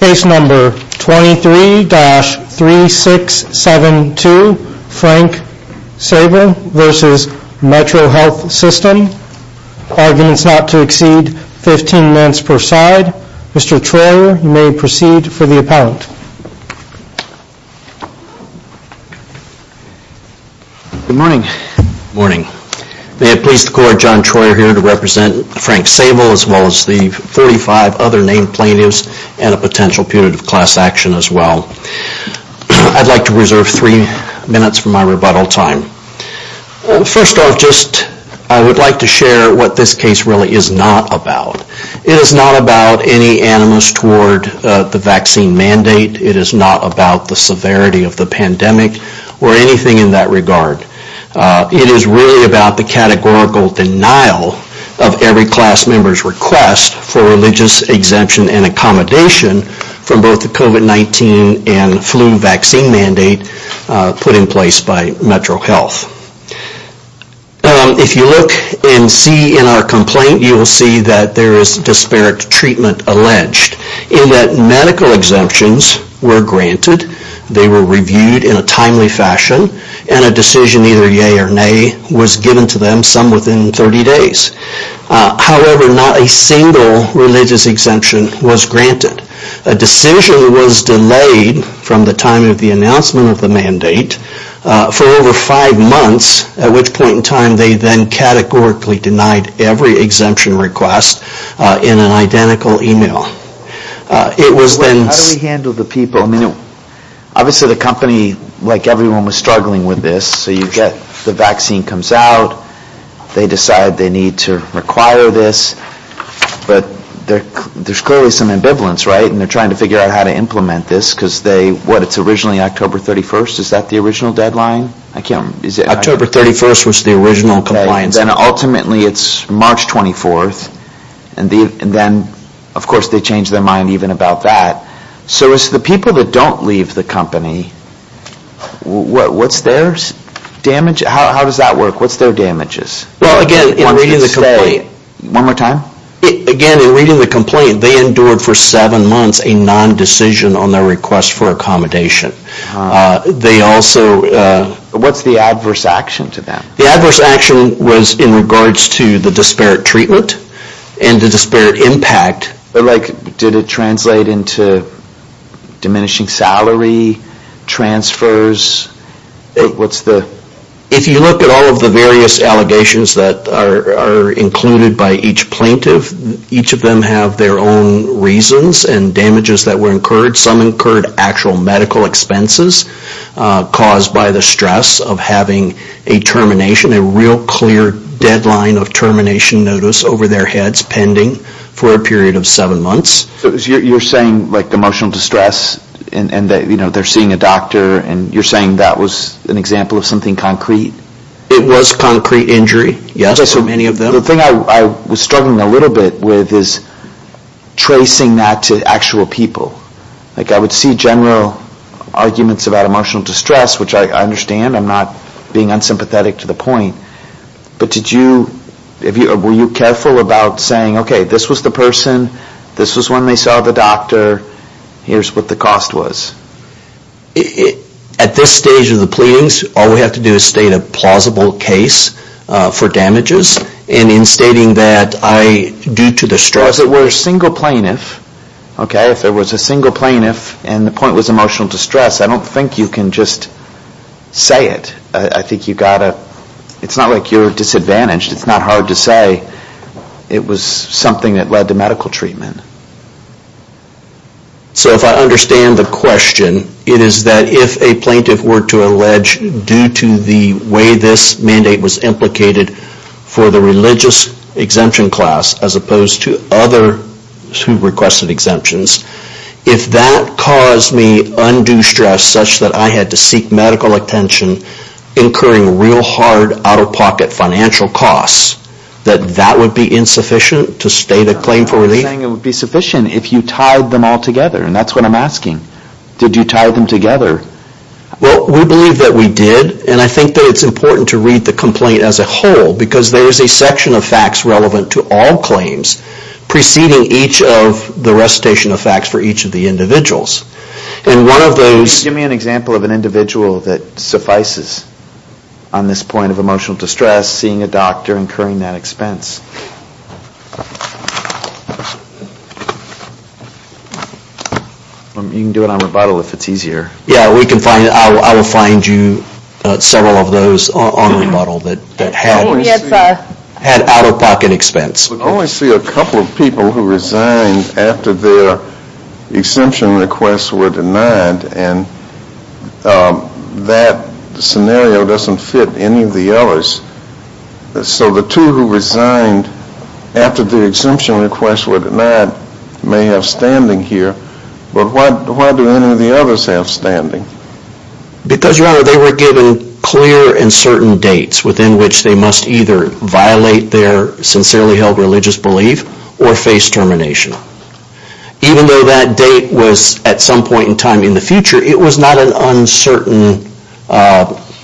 Case number 23-3672, Frank Savel v. MetroHealth System Arguments not to exceed 15 minutes per side Mr. Troyer, you may proceed for the appellant Good morning Good morning May it please the court, John Troyer here to represent Frank Savel as well as the 45 other named plaintiffs and a potential punitive class action as well I'd like to reserve three minutes for my rebuttal time First off, I would like to share what this case really is not about It is not about any animus toward the vaccine mandate It is not about the severity of the pandemic or anything in that regard It is really about the categorical denial of every class member's request for religious exemption and accommodation from both the COVID-19 and flu vaccine mandate put in place by MetroHealth If you look and see in our complaint, you will see that there is disparate treatment alleged in that medical exemptions were granted, they were reviewed in a timely fashion, and a decision either yay or nay was given to them, some within 30 days However, not a single religious exemption was granted A decision was delayed from the time of the announcement of the mandate for over five months At which point in time they then categorically denied every exemption request in an identical email How do we handle the people? Obviously the company, like everyone, was struggling with this So you get the vaccine comes out, they decide they need to require this But there's clearly some ambivalence, right? And they're trying to figure out how to implement this because they, what, it's originally October 31st? Is that the original deadline? October 31st was the original compliance date Then ultimately it's March 24th And then, of course, they change their mind even about that So it's the people that don't leave the company What's their damage? How does that work? What's their damages? Well, again, in reading the complaint One more time? Again, in reading the complaint, they endured for seven months a non-decision on their request for accommodation They also... What's the adverse action to them? The adverse action was in regards to the disparate treatment and the disparate impact Like, did it translate into diminishing salary, transfers? What's the... If you look at all of the various allegations that are included by each plaintiff Each of them have their own reasons and damages that were incurred Some incurred actual medical expenses caused by the stress of having a termination A real clear deadline of termination notice over their heads pending for a period of seven months So you're saying, like, emotional distress and they're seeing a doctor And you're saying that was an example of something concrete? It was concrete injury, yes, for many of them So the thing I was struggling a little bit with is tracing that to actual people Like, I would see general arguments about emotional distress, which I understand I'm not being unsympathetic to the point But did you... Were you careful about saying, okay, this was the person This was when they saw the doctor Here's what the cost was At this stage of the pleadings, all we have to do is state a plausible case for damages And in stating that I, due to the stress... As it were, a single plaintiff, okay, if there was a single plaintiff And the point was emotional distress, I don't think you can just say it I think you've got to... It's not like you're disadvantaged, it's not hard to say It was something that led to medical treatment So if I understand the question It is that if a plaintiff were to allege Due to the way this mandate was implicated For the religious exemption class As opposed to others who requested exemptions If that caused me undue stress Such that I had to seek medical attention Incurring real hard, out-of-pocket financial costs That that would be insufficient to state a claim for relief? I'm not saying it would be sufficient if you tied them all together And that's what I'm asking Did you tie them together? Well, we believe that we did And I think that it's important to read the complaint as a whole Because there is a section of facts relevant to all claims Preceding each of the recitation of facts for each of the individuals And one of those... Can you give me an example of an individual that suffices On this point of emotional distress Seeing a doctor incurring that expense? You can do it on rebuttal if it's easier Yeah, I will find you several of those on rebuttal That had out-of-pocket expense I only see a couple of people who resigned After their exemption requests were denied And that scenario doesn't fit any of the others So the two who resigned After their exemption requests were denied May have standing here But why do any of the others have standing? Because, your honor, they were given clear and certain dates Within which they must either violate their Sincerely held religious belief Or face termination Even though that date was At some point in time in the future It was not an uncertain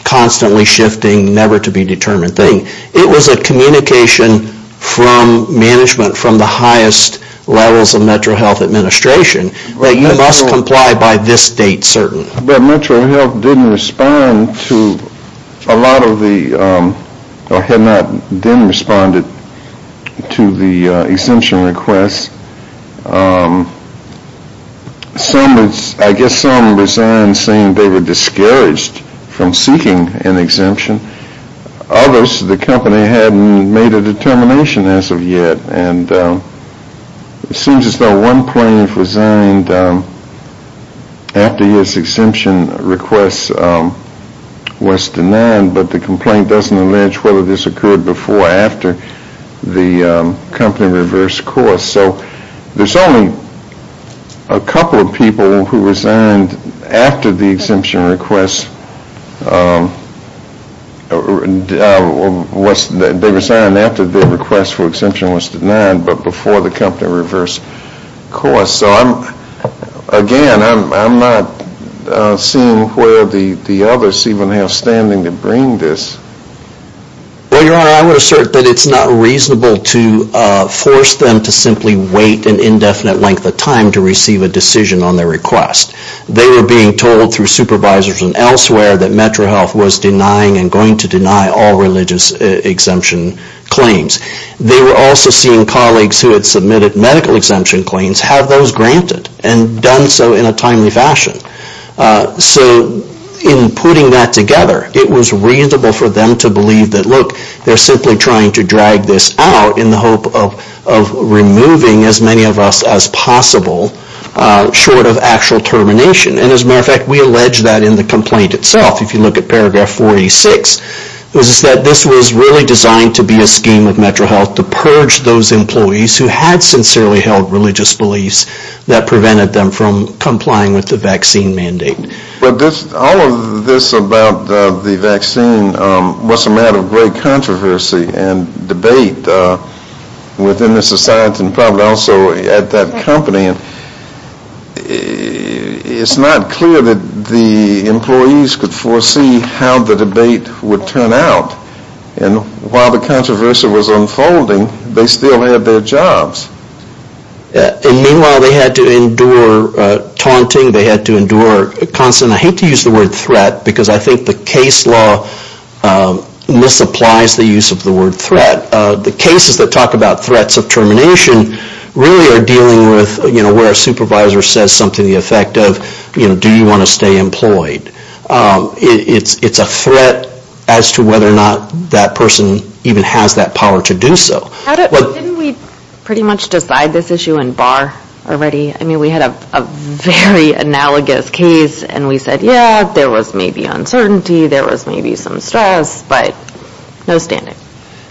Constantly shifting, never to be determined thing It was a communication from management From the highest levels of Metro Health Administration That you must comply by this date, certain But Metro Health didn't respond to A lot of the... Or had not then responded To the exemption requests I guess some resigned saying they were discouraged From seeking an exemption Others, the company hadn't made a determination as of yet And it seems as though one plaintiff resigned After his exemption request was denied But the complaint doesn't allege whether this occurred before After the company reversed course So, there's only a couple of people who resigned After the exemption request They resigned after their request for exemption was denied But before the company reversed course So, again, I'm not seeing where the others Even have standing to bring this Well, your honor, I would assert that it's not reasonable To force them to simply wait an indefinite length of time To receive a decision on their request They were being told through supervisors and elsewhere That Metro Health was denying And going to deny all religious exemption claims They were also seeing colleagues Who had submitted medical exemption claims Have those granted And done so in a timely fashion So, in putting that together It was reasonable for them to believe that Look, they're simply trying to drag this out In the hope of removing as many of us as possible Short of actual termination And, as a matter of fact, we allege that in the complaint itself If you look at paragraph 46 This was really designed to be a scheme of Metro Health To purge those employees who had sincerely held religious beliefs That prevented them from complying with the vaccine mandate All of this about the vaccine Was a matter of great controversy and debate Within the society and probably also at that company It's not clear that the employees could foresee How the debate would turn out And while the controversy was unfolding They still had their jobs And meanwhile they had to endure taunting They had to endure constant, I hate to use the word threat Because I think the case law Misapplies the use of the word threat The cases that talk about threats of termination Really are dealing with Where a supervisor says something to the effect of Do you want to stay employed? It's a threat as to whether or not That person even has that power to do so Didn't we pretty much decide this issue in bar already? I mean we had a very analogous case And we said yeah, there was maybe uncertainty There was maybe some stress, but no standing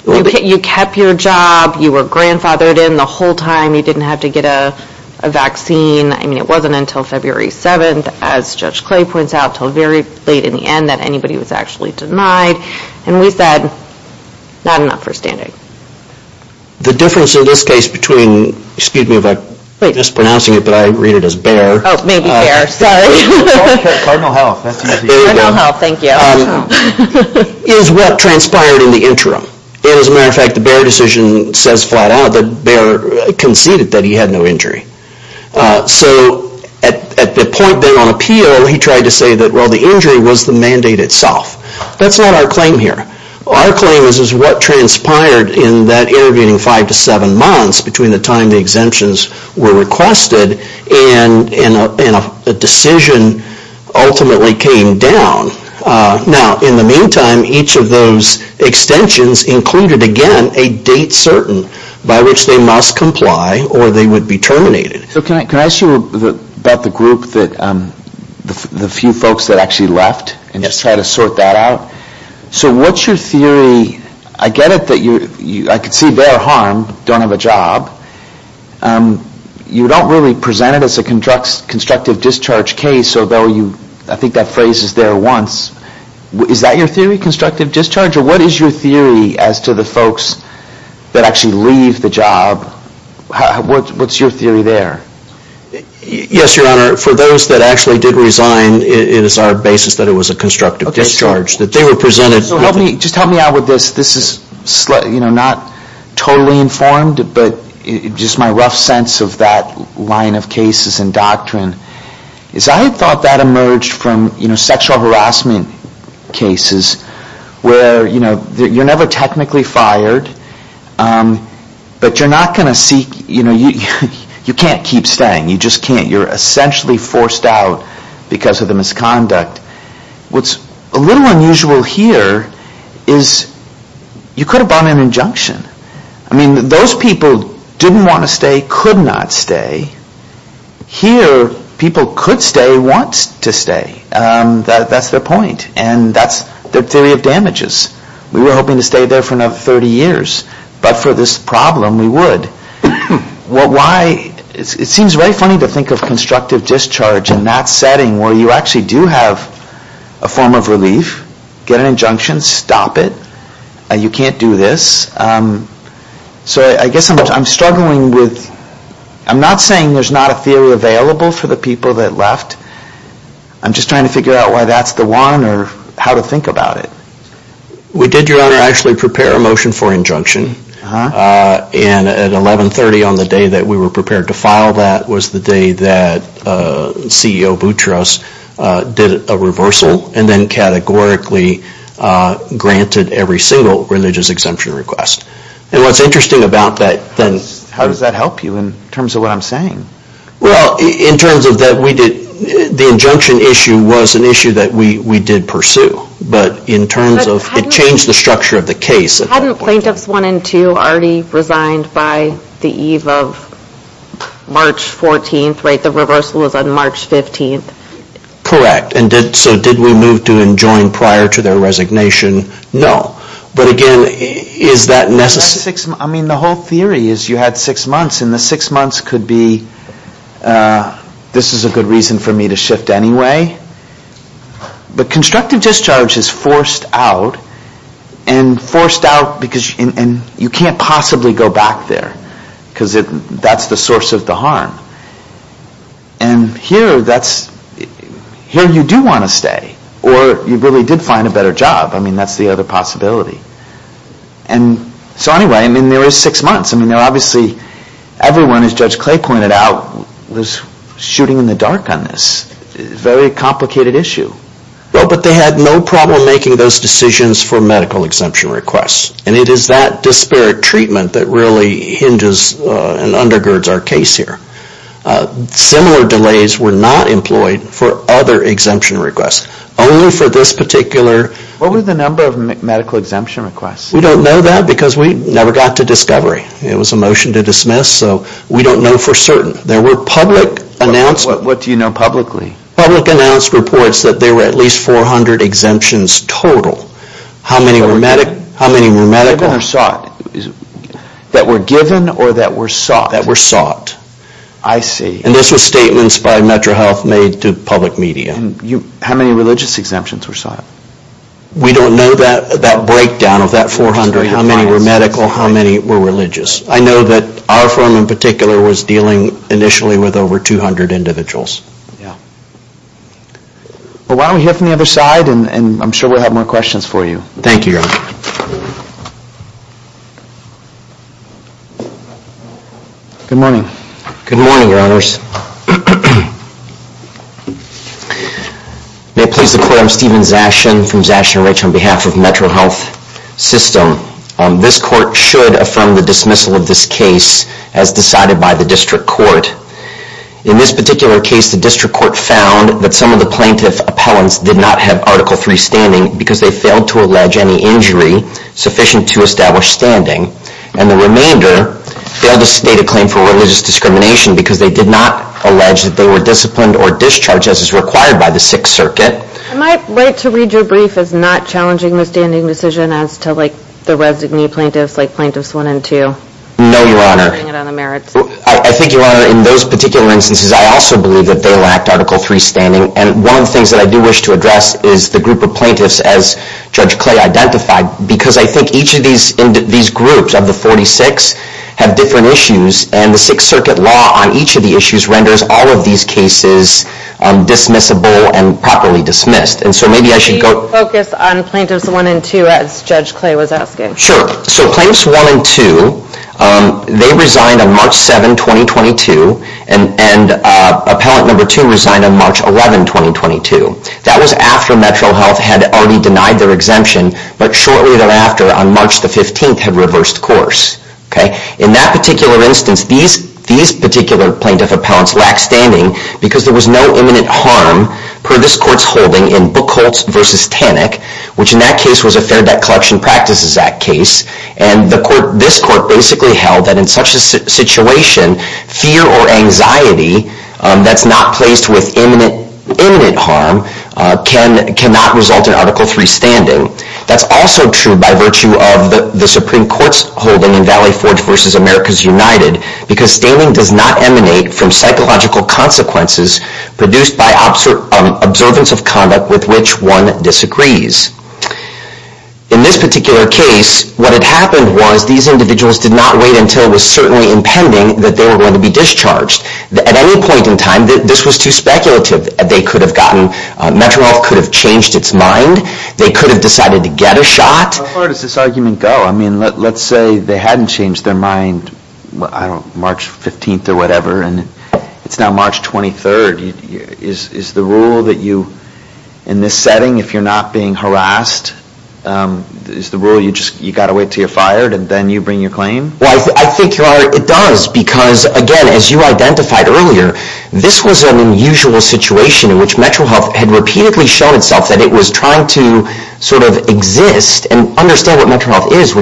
You kept your job, you were grandfathered in the whole time You didn't have to get a vaccine I mean it wasn't until February 7th As Judge Clay points out, until very late in the end That anybody was actually denied And we said, not enough for standing The difference in this case between Excuse me if I mispronounce it, but I read it as bare Oh, maybe bare, sorry Cardinal Health, thank you Is what transpired in the interim And as a matter of fact the bare decision says flat out That bare conceded that he had no injury So at the point then on appeal He tried to say that the injury was the mandate itself That's not our claim here Our claim is what transpired in that intervening 5-7 months Between the time the exemptions were requested And a decision ultimately came down Now in the meantime Each of those extensions included again A date certain by which they must comply Or they would be terminated So can I ask you about the group The few folks that actually left And just try to sort that out So what's your theory, I get it that I can see bare harm, don't have a job You don't really present it as a constructive discharge case Although I think that phrase is there once Is that your theory, constructive discharge Or what is your theory as to the folks That actually leave the job What's your theory there Yes your honor, for those that actually did resign It is our basis that it was a constructive discharge Just help me out with this This is not totally informed But just my rough sense of that line of cases And doctrine I thought that emerged from sexual harassment cases Where you're never technically fired But you're not going to seek You can't keep staying You're essentially forced out because of the misconduct What's a little unusual here Is you could have brought an injunction I mean those people didn't want to stay Could not stay Here people could stay, want to stay That's their point And that's their theory of damages We were hoping to stay there for another 30 years But for this problem we would It seems very funny to think of constructive discharge In that setting where you actually do have A form of relief, get an injunction, stop it You can't do this So I guess I'm struggling with I'm not saying there's not a theory available For the people that left I'm just trying to figure out why that's the one Or how to think about it We did, your honor, actually prepare a motion for injunction And at 1130 on the day that we were prepared to file that Was the day that CEO Boutros did a reversal And then categorically granted Every single religious exemption request And what's interesting about that How does that help you in terms of what I'm saying? Well, in terms of that we did The injunction issue was an issue that we did pursue But in terms of, it changed the structure of the case Hadn't plaintiffs one and two already resigned By the eve of March 14th Right, the reversal was on March 15th Correct, so did we move to enjoin prior to their resignation? No But again, is that necessary? I mean, the whole theory is you had six months And the six months could be This is a good reason for me to shift anyway But constructive discharge is forced out And forced out because You can't possibly go back there Because that's the source of the harm And here you do want to stay Or you really did find a better job I mean, that's the other possibility So anyway, there were six months Obviously everyone, as Judge Clay pointed out Was shooting in the dark on this Very complicated issue But they had no problem making those decisions for medical exemption requests And it is that disparate treatment that really hinges And undergirds our case here Similar delays were not employed for other exemption requests Only for this particular What were the number of medical exemption requests? We don't know that because we never got to discovery It was a motion to dismiss, so we don't know for certain What do you know publicly? Public announced reports that there were at least 400 exemptions total How many were medical? That were given or that were sought And this was statements by Metro Health made to public media How many religious exemptions were sought? We don't know that breakdown of that 400 How many were medical, how many were religious I know that our firm in particular was dealing initially With over 200 individuals Why don't we hear from the other side And I'm sure we'll have more questions for you Thank you, Your Honor Good morning Good morning, Your Honors May it please the Court I'm Stephen Zashin from Zashin & Rich On behalf of Metro Health System This Court should affirm the dismissal of this case As decided by the District Court In this particular case, the District Court found that some of the plaintiff Appellants did not have Article III standing Because they failed to allege any injury sufficient to establish standing And the remainder Failed to state a claim for religious discrimination Because they did not allege that they were disciplined or discharged As is required by the Sixth Circuit Am I right to read your brief as not challenging the standing decision As to the resignee plaintiffs like Plaintiffs 1 and 2? No, Your Honor I think, Your Honor, in those particular instances I also believe that they lacked Article III standing And one of the things that I do wish to address is the group of plaintiffs As Judge Clay identified Because I think each of these groups of the 46 Have different issues And the Sixth Circuit law on each of the issues renders all of these cases Dismissible and properly dismissed Can you focus on Plaintiffs 1 and 2 as Judge Clay was asking? Sure, so Plaintiffs 1 and 2 They resigned on March 7, 2022 And Appellant 2 resigned on March 11, 2022 That was after MetroHealth had already denied their exemption But shortly thereafter on March 15 Had reversed course In that particular instance These plaintiff appellants lacked standing Because there was no imminent harm Per this Court's holding in Buchholz v. Tannick Which in that case was a Fair Debt Collection Practices Act case And this Court basically held that in such a situation Fear or anxiety That's not placed with imminent harm Cannot result in Article III standing That's also true by virtue of the Supreme Court's holding In Valley Forge v. Americas United Because standing does not emanate from psychological consequences Produced by observance of conduct In this particular case What had happened was These individuals did not wait until it was certainly impending That they were going to be discharged At any point in time this was too speculative MetroHealth could have changed its mind They could have decided to get a shot How far does this argument go? Let's say they hadn't changed their mind on March 15 It's now March 23rd Is the rule that in this setting If you're not being harassed You've got to wait until you're fired And then you bring your claim? I think it does because as you identified earlier This was an unusual situation In which MetroHealth had repeatedly shown itself That it was trying to exist And understand what MetroHealth is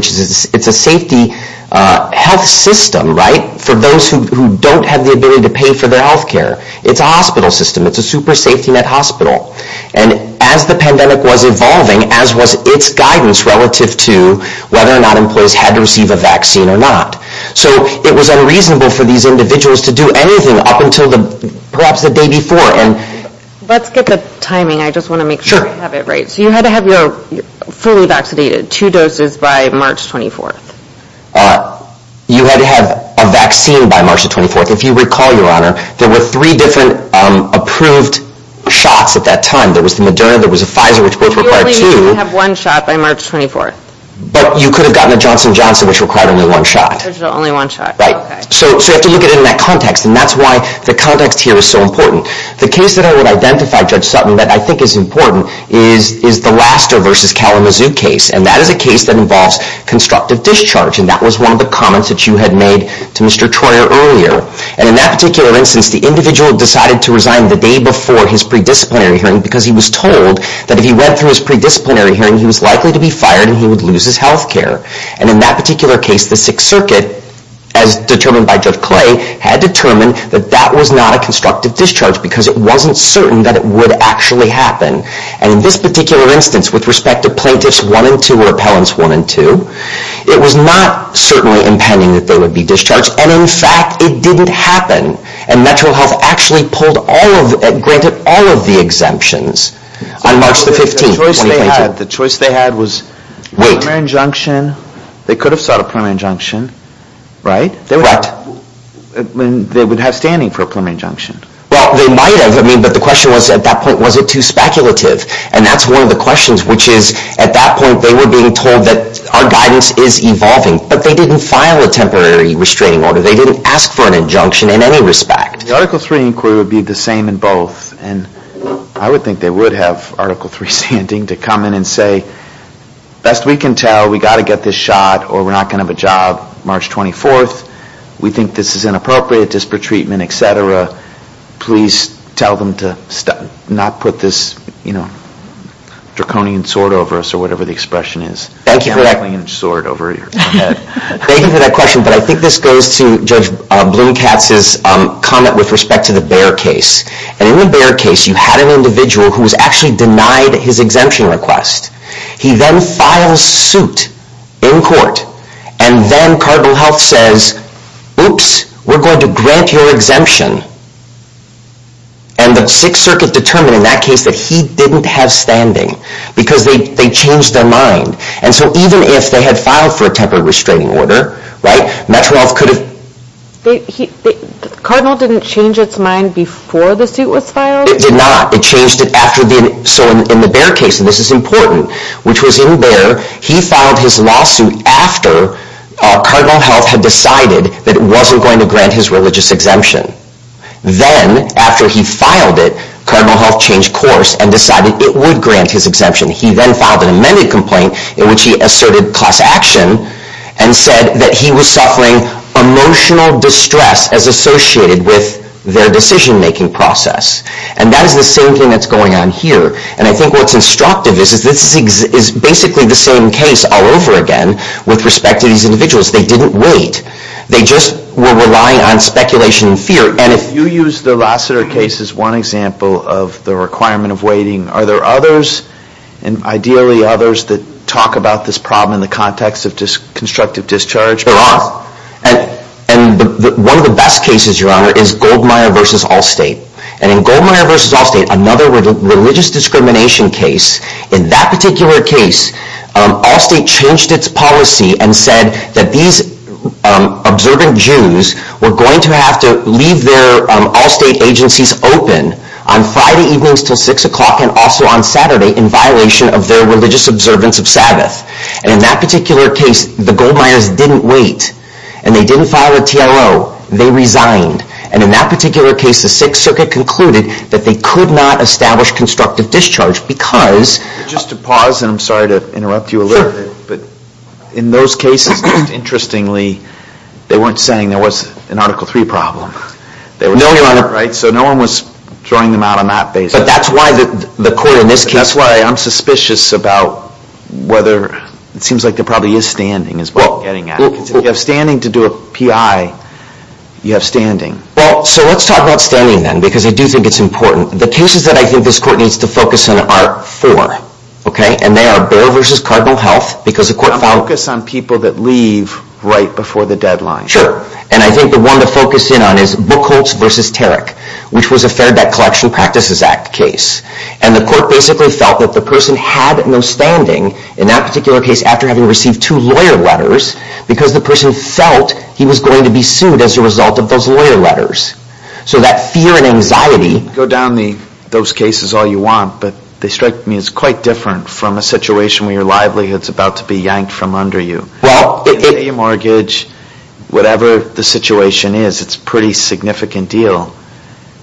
It's a safety health system For those who don't have the ability to pay for their health care It's a hospital system It's a super safety net hospital And as the pandemic was evolving As was its guidance relative to Whether or not employees had to receive a vaccine or not So it was unreasonable for these individuals to do anything Let's get the timing I just want to make sure I have it right So you had to have your fully vaccinated Two doses by March 24th You had to have a vaccine by March 24th If you recall your honor There were three different approved shots at that time There was the Moderna, there was the Pfizer You only needed to have one shot by March 24th But you could have gotten the Johnson & Johnson Which required only one shot So you have to look at it in that context And that's why the context here is so important The case that I would identify Judge Sutton That I think is important is the Laster v. Kalamazoo case And that is a case that involves constructive discharge And that was one of the comments that you had made to Mr. Troyer earlier And in that particular instance The individual decided to resign the day before his pre-disciplinary hearing Because he was told that if he went through his pre-disciplinary hearing He was likely to be fired and he would lose his health care And in that particular case, the Sixth Circuit As determined by Judge Clay Had determined that that was not a constructive discharge Because it wasn't certain that it would actually happen And in this particular instance with respect to Plaintiffs 1 and 2 Or Appellants 1 and 2 It was not certainly impending that they would be discharged And in fact, it didn't happen And MetroHealth actually granted all of the exemptions On March 15, 2020 The choice they had was a preliminary injunction They could have sought a preliminary injunction They would have standing for a preliminary injunction Well, they might have But the question at that point was, was it too speculative? And that's one of the questions Which is, at that point, they were being told that our guidance is evolving But they didn't file a temporary restraining order They didn't ask for an injunction in any respect The Article 3 inquiry would be the same in both And I would think they would have Article 3 standing To come in and say, best we can tell We've got to get this shot or we're not going to have a job March 24 We think this is inappropriate, disparate treatment, etc Could you please tell them to not put this Draconian sword over us Or whatever the expression is Thank you for that question But I think this goes to Judge Bloom-Katz's comment With respect to the Bayer case And in the Bayer case, you had an individual who was actually denied his exemption request He then files suit in court And then Cardinal Health says Oops, we're going to grant your exemption And the Sixth Circuit determined in that case That he didn't have standing Because they changed their mind And so even if they had filed for a temporary restraining order Cardinal didn't change its mind before the suit was filed? It did not It changed it after So in the Bayer case, and this is important Which was in Bayer, he filed his lawsuit After Cardinal Health had decided That it wasn't going to grant his religious exemption Then after he filed it, Cardinal Health changed course And decided it would grant his exemption He then filed an amended complaint in which he asserted class action And said that he was suffering emotional distress As associated with their decision-making process And that is the same thing that's going on here And I think what's instructive is This is basically the same case all over again With respect to these individuals They didn't wait, they just were relying on speculation and fear And if you use the Lassiter case as one example Of the requirement of waiting Are there others, and ideally others That talk about this problem in the context of constructive discharge? One of the best cases, Your Honor, is Goldmeier v. Allstate And in Goldmeier v. Allstate, another religious discrimination case In that particular case Allstate changed its policy And said that these observant Jews Were going to have to leave their Allstate agencies open On Friday evenings until 6 o'clock And also on Saturday in violation of their religious observance of Sabbath And in that particular case The Goldmeiers didn't wait And they didn't file a TLO, they resigned And in that particular case, the Sixth Circuit concluded That they could not establish constructive discharge Just to pause, and I'm sorry to interrupt you a little In those cases, interestingly They weren't saying there was an Article III problem So no one was throwing them out on that basis But that's why the court in this case That's why I'm suspicious about whether It seems like there probably is standing Because if you have standing to do a PI, you have standing Well, so let's talk about standing then Because I do think it's important The cases that I think this Court needs to focus on are four And they are Baer v. Cardinal Health I'm going to focus on people that leave right before the deadline Sure, and I think the one to focus in on is Buchholz v. Tarek Which was a Fair Debt Collection Practices Act case And the Court basically felt that the person had no standing In that particular case after having received two lawyer letters Because the person felt he was going to be sued As a result of those lawyer letters So that fear and anxiety You can go down those cases all you want But they strike me as quite different from a situation Where your livelihood is about to be yanked from under you Pay your mortgage, whatever the situation is It's a pretty significant deal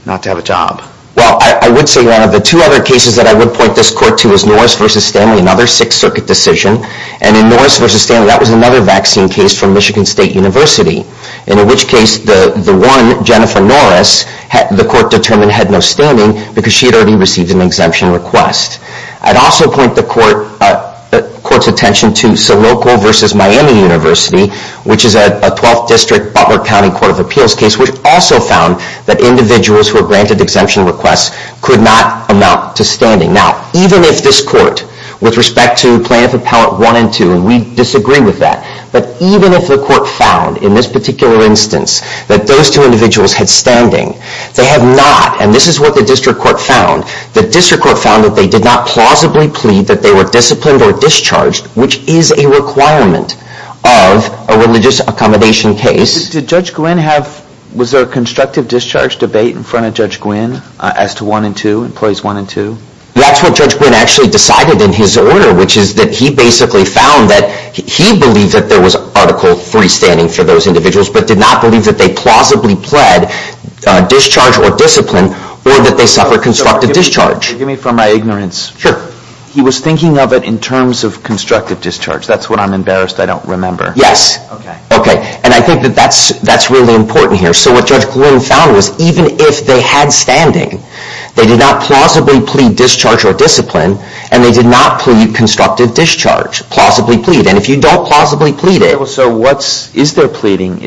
not to have a job Well, I would say one of the two other cases That I would point this Court to is Norris v. Stanley Another Sixth Circuit decision And in Norris v. Stanley that was another vaccine case from Michigan State University In which case the one, Jennifer Norris The Court determined had no standing Because she had already received an exemption request I'd also point the Court's attention to Soloco v. Miami University Which is a 12th District Butler County Court of Appeals case Which also found that individuals who were granted exemption requests Could not amount to standing Now, even if this Court with respect to Plaintiff Appellate 1 and 2 And we disagree with that But even if the Court found in this particular instance That those two individuals had standing They have not, and this is what the District Court found The District Court found that they did not plausibly plead That they were disciplined or discharged Which is a requirement of a religious accommodation case Did Judge Gwynne have, was there a constructive discharge debate In front of Judge Gwynne as to 1 and 2 That's what Judge Gwynne actually decided in his order Which is that he basically found that He believed that there was Article 3 standing for those individuals But did not believe that they plausibly pled Discharge or discipline or that they suffered constructive discharge Forgive me for my ignorance He was thinking of it in terms of constructive discharge That's what I'm embarrassed I don't remember And I think that's really important here So what Judge Gwynne found was even if they had standing They did not plausibly plead discharge or discipline And they did not plead constructive discharge And if you don't plausibly plead it So is there pleading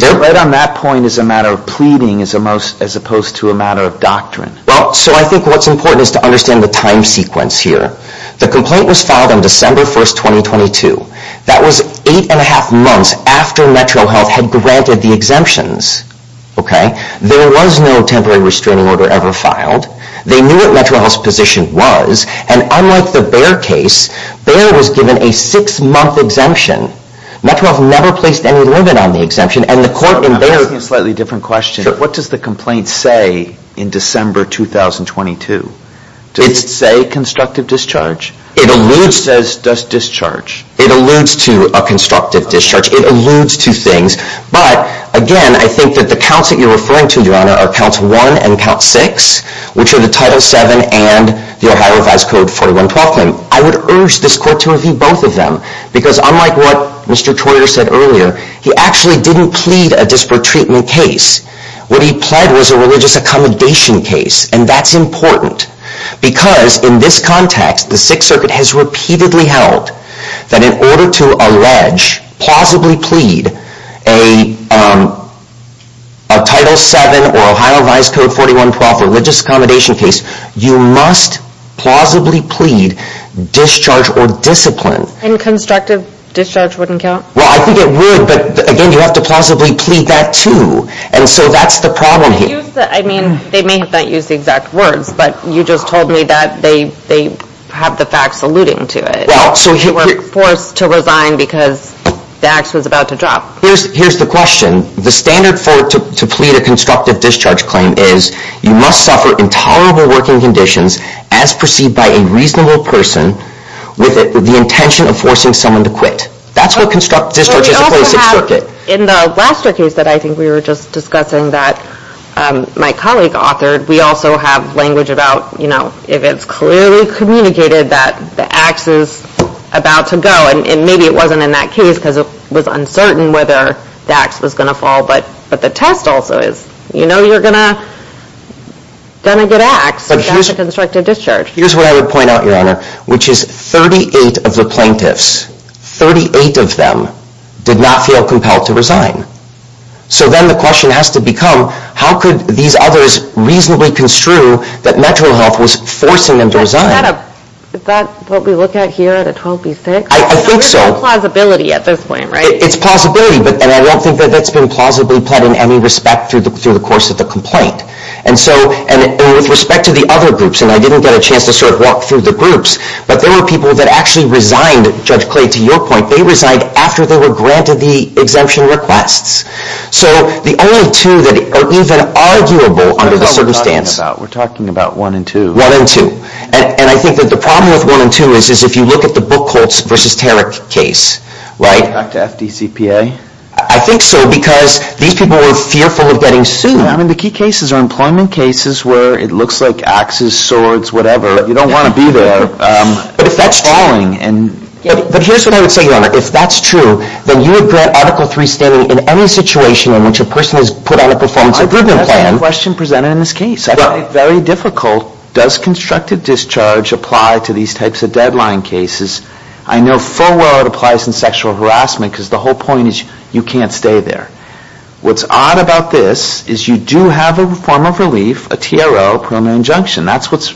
Right on that point is a matter of pleading As opposed to a matter of doctrine So I think what's important is to understand the time sequence here The complaint was filed on December 1, 2022 That was 8 and a half months after MetroHealth had granted the exemptions There was no temporary restraining order ever filed They knew what MetroHealth's position was And unlike the Behr case, Behr was given a 6 month exemption MetroHealth never placed any limit on the exemption And the court in Behr I'm asking a slightly different question What does the complaint say in December 2022 Does it say constructive discharge It alludes to a constructive discharge It alludes to things But again I think that the counts that you're referring to Are counts 1 and count 6 Which are the Title 7 and the Ohio Advise Code 41-12 I would urge this court to review both of them Because unlike what Mr. Troyer said earlier He actually didn't plead a disparate treatment case What he pled was a religious accommodation case And that's important Because in this context the 6th Circuit has repeatedly held That in order to allege, plausibly plead A Title 7 or Ohio Advise Code 41-12 Religious accommodation case You must plausibly plead Discharge or discipline And constructive discharge wouldn't count Well I think it would but again you have to plausibly plead that too And so that's the problem here They may have not used the exact words But you just told me that they have the facts alluding to it They were forced to resign because the ax was about to drop Here's the question The standard to plead a constructive discharge claim is You must suffer intolerable working conditions As perceived by a reasonable person With the intention of forcing someone to quit That's what constructive discharge is in the 6th Circuit In the last case that I think we were just discussing That my colleague authored We also have language about If it's clearly communicated that the ax is about to go And maybe it wasn't in that case Because it was uncertain whether the ax was going to fall But the test also is You know you're going to get axed But that's a constructive discharge Here's what I would point out Your Honor Which is 38 of the plaintiffs 38 of them did not feel compelled to resign So then the question has to become How could these others reasonably construe That MetroHealth was forcing them to resign Is that what we look at here at a 12B6? I think so It's plausibility And I don't think that's been plausibly pled in any respect Through the course of the complaint And with respect to the other groups And I didn't get a chance to sort of walk through the groups But there were people that actually resigned Judge Clay to your point They resigned after they were granted the exemption requests So the only two that are even arguable under the circumstance We're talking about 1 and 2 And I think that the problem with 1 and 2 Is if you look at the Buchholz v. Tarrick case Back to FDCPA I think so because these people were fearful of getting sued I mean the key cases are employment cases Where it looks like axes, swords, whatever You don't want to be there But here's what I would say Your Honor If that's true then you would grant Article 3 standing In any situation in which a person is put on a performance improvement plan That's the question presented in this case It's actually very difficult Does constructive discharge apply to these types of deadline cases I know full well it applies in sexual harassment Because the whole point is you can't stay there What's odd about this is you do have a form of relief A TRO, permanent injunction That's what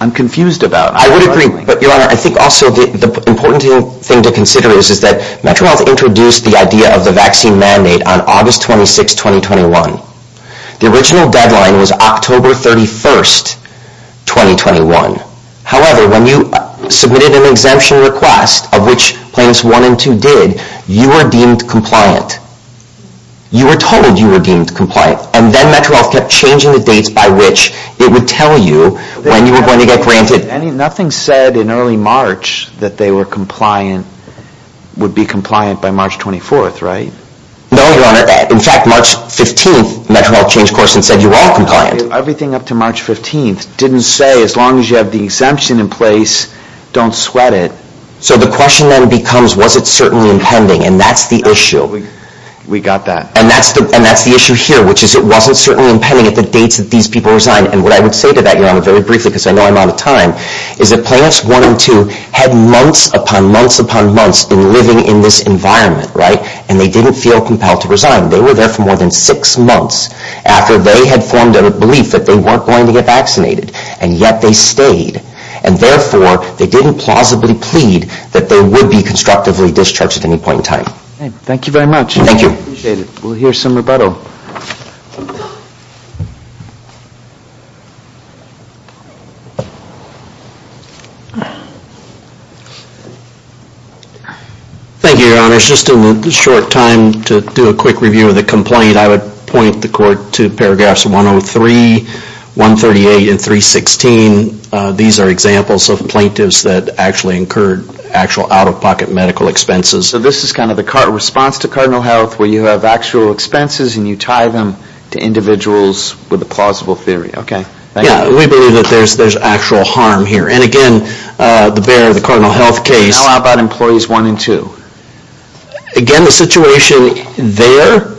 I'm confused about I would agree but Your Honor I think also the important thing to consider Is that MetroHealth introduced the idea of the vaccine mandate On August 26, 2021 The original deadline was October 31, 2021 However when you submitted an exemption request Of which plans 1 and 2 did You were deemed compliant You were told you were deemed compliant And then MetroHealth kept changing the dates by which it would tell you When you were going to get granted Nothing said in early March that they were compliant No Your Honor, in fact March 15 MetroHealth changed course and said you were all compliant Everything up to March 15 Didn't say as long as you have the exemption in place Don't sweat it So the question then becomes was it certainly impending And that's the issue We got that And that's the issue here Which is it wasn't certainly impending at the dates that these people resigned And what I would say to that Your Honor very briefly because I know I'm out of time Is that plans 1 and 2 had months upon months upon months In living in this environment And they didn't feel compelled to resign They were there for more than 6 months After they had formed a belief that they weren't going to get vaccinated And yet they stayed And therefore they didn't plausibly plead That they would be constructively discharged at any point in time Thank you very much We'll hear some rebuttal Thank you Your Honor Just in the short time to do a quick review of the complaint I would point the court to paragraphs 103, 138 and 316 These are examples of plaintiffs that actually incurred Actual out-of-pocket medical expenses So this is kind of the response to Cardinal Health Where you have actual expenses and you tie them to individuals With a plausible theory We believe that there's actual harm here And again the bearer of the Cardinal Health case How about employees 1 and 2 Again the situation there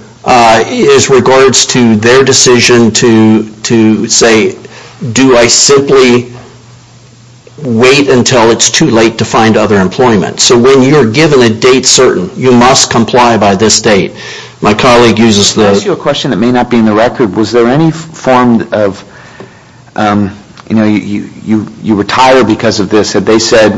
is regards to their decision To say do I simply Wait until it's too late to find other employment So when you're given a date certain You must comply by this date My colleague uses the I ask you a question that may not be in the record Was there any form of You know you retired because of this And they said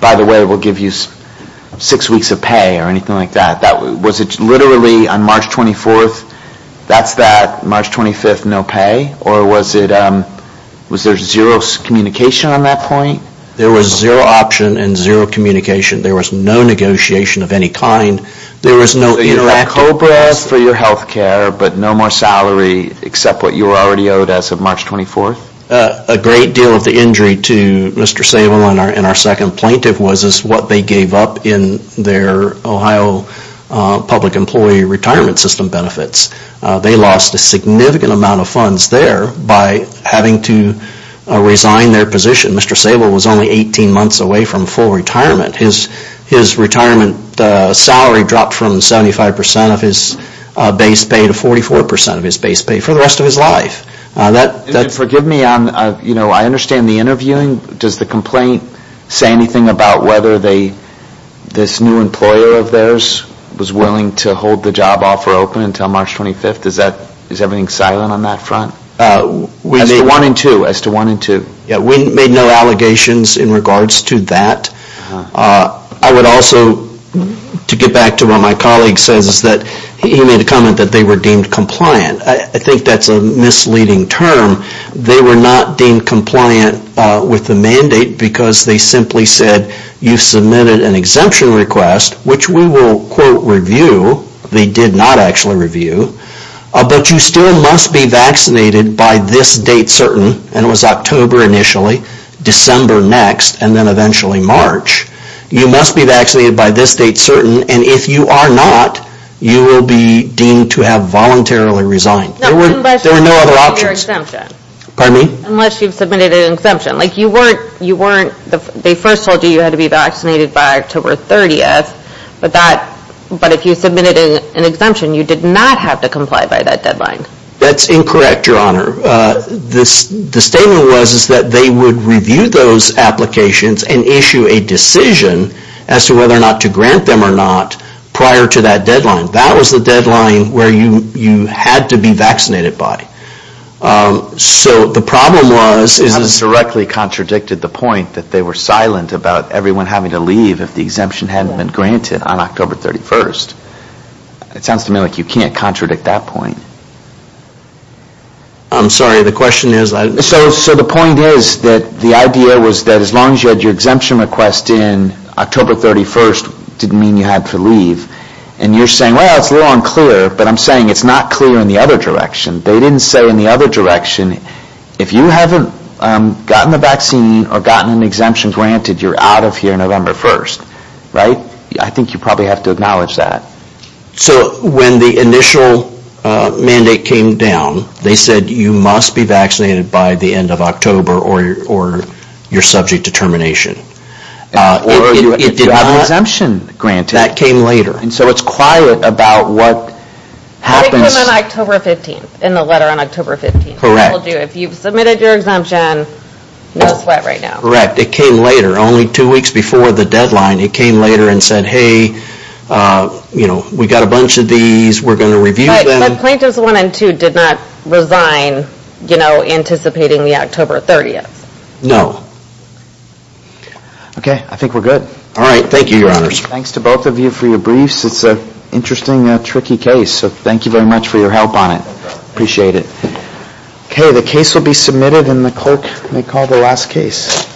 by the way we'll give you 6 weeks of pay Or anything like that Was it literally on March 24th That's that March 25th no pay Or was there zero communication on that point There was zero option and zero communication There was no negotiation of any kind There was no interactive So you had cold breath for your health care but no more salary Except what you were already owed as of March 24th A great deal of the injury to Mr. Sable and our second plaintiff Was what they gave up in their Ohio public employee retirement system benefits They lost a significant amount of funds there By having to resign their position Mr. Sable was only 18 months away from full retirement His retirement salary dropped From 75% of his base pay To 44% of his base pay for the rest of his life Forgive me I understand the interviewing Does the complaint say anything about whether This new employer of theirs Was willing to hold the job offer open until March 25th Is everything silent on that front As to 1 and 2 We made no allegations in regards to that I would also To get back to what my colleague says He made a comment that they were deemed compliant I think that's a misleading term They were not deemed compliant with the mandate Because they simply said you submitted an exemption request Which we will quote review They did not actually review But you still must be vaccinated by this date certain And it was October initially December next and then eventually March You must be vaccinated by this date certain And if you are not you will be deemed To have voluntarily resigned There were no other options Unless you submitted an exemption They first told you you had to be vaccinated by October 30th But if you submitted an exemption You did not have to comply by that deadline That's incorrect your honor The statement was that they would review those applications And issue a decision as to whether or not to grant them Or not prior to that deadline That was the deadline where you had to be vaccinated by So the problem was You have directly contradicted the point That they were silent about everyone having to leave If the exemption hadn't been granted on October 31st It sounds to me like you can't contradict that point I'm sorry the question is So the point is that the idea was That as long as you had your exemption request in October 31st didn't mean you had to leave And you're saying well it's a little unclear But I'm saying it's not clear in the other direction They didn't say in the other direction If you haven't gotten the vaccine or gotten an exemption granted You're out of here November 1st I think you probably have to acknowledge that So when the initial mandate came down They said you must be vaccinated by the end of October Or your subject determination Or if you have an exemption granted That came later So it's quiet about what happens It came on October 15th in the letter on October 15th If you've submitted your exemption No sweat right now Correct it came later only 2 weeks before the deadline It came later and said hey We've got a bunch of these we're going to review them But plaintiffs 1 and 2 did not resign Anticipating the October 30th No Okay I think we're good Thanks to both of you for your briefs It's an interesting tricky case So thank you very much for your help on it Okay the case will be submitted And the clerk may call the last case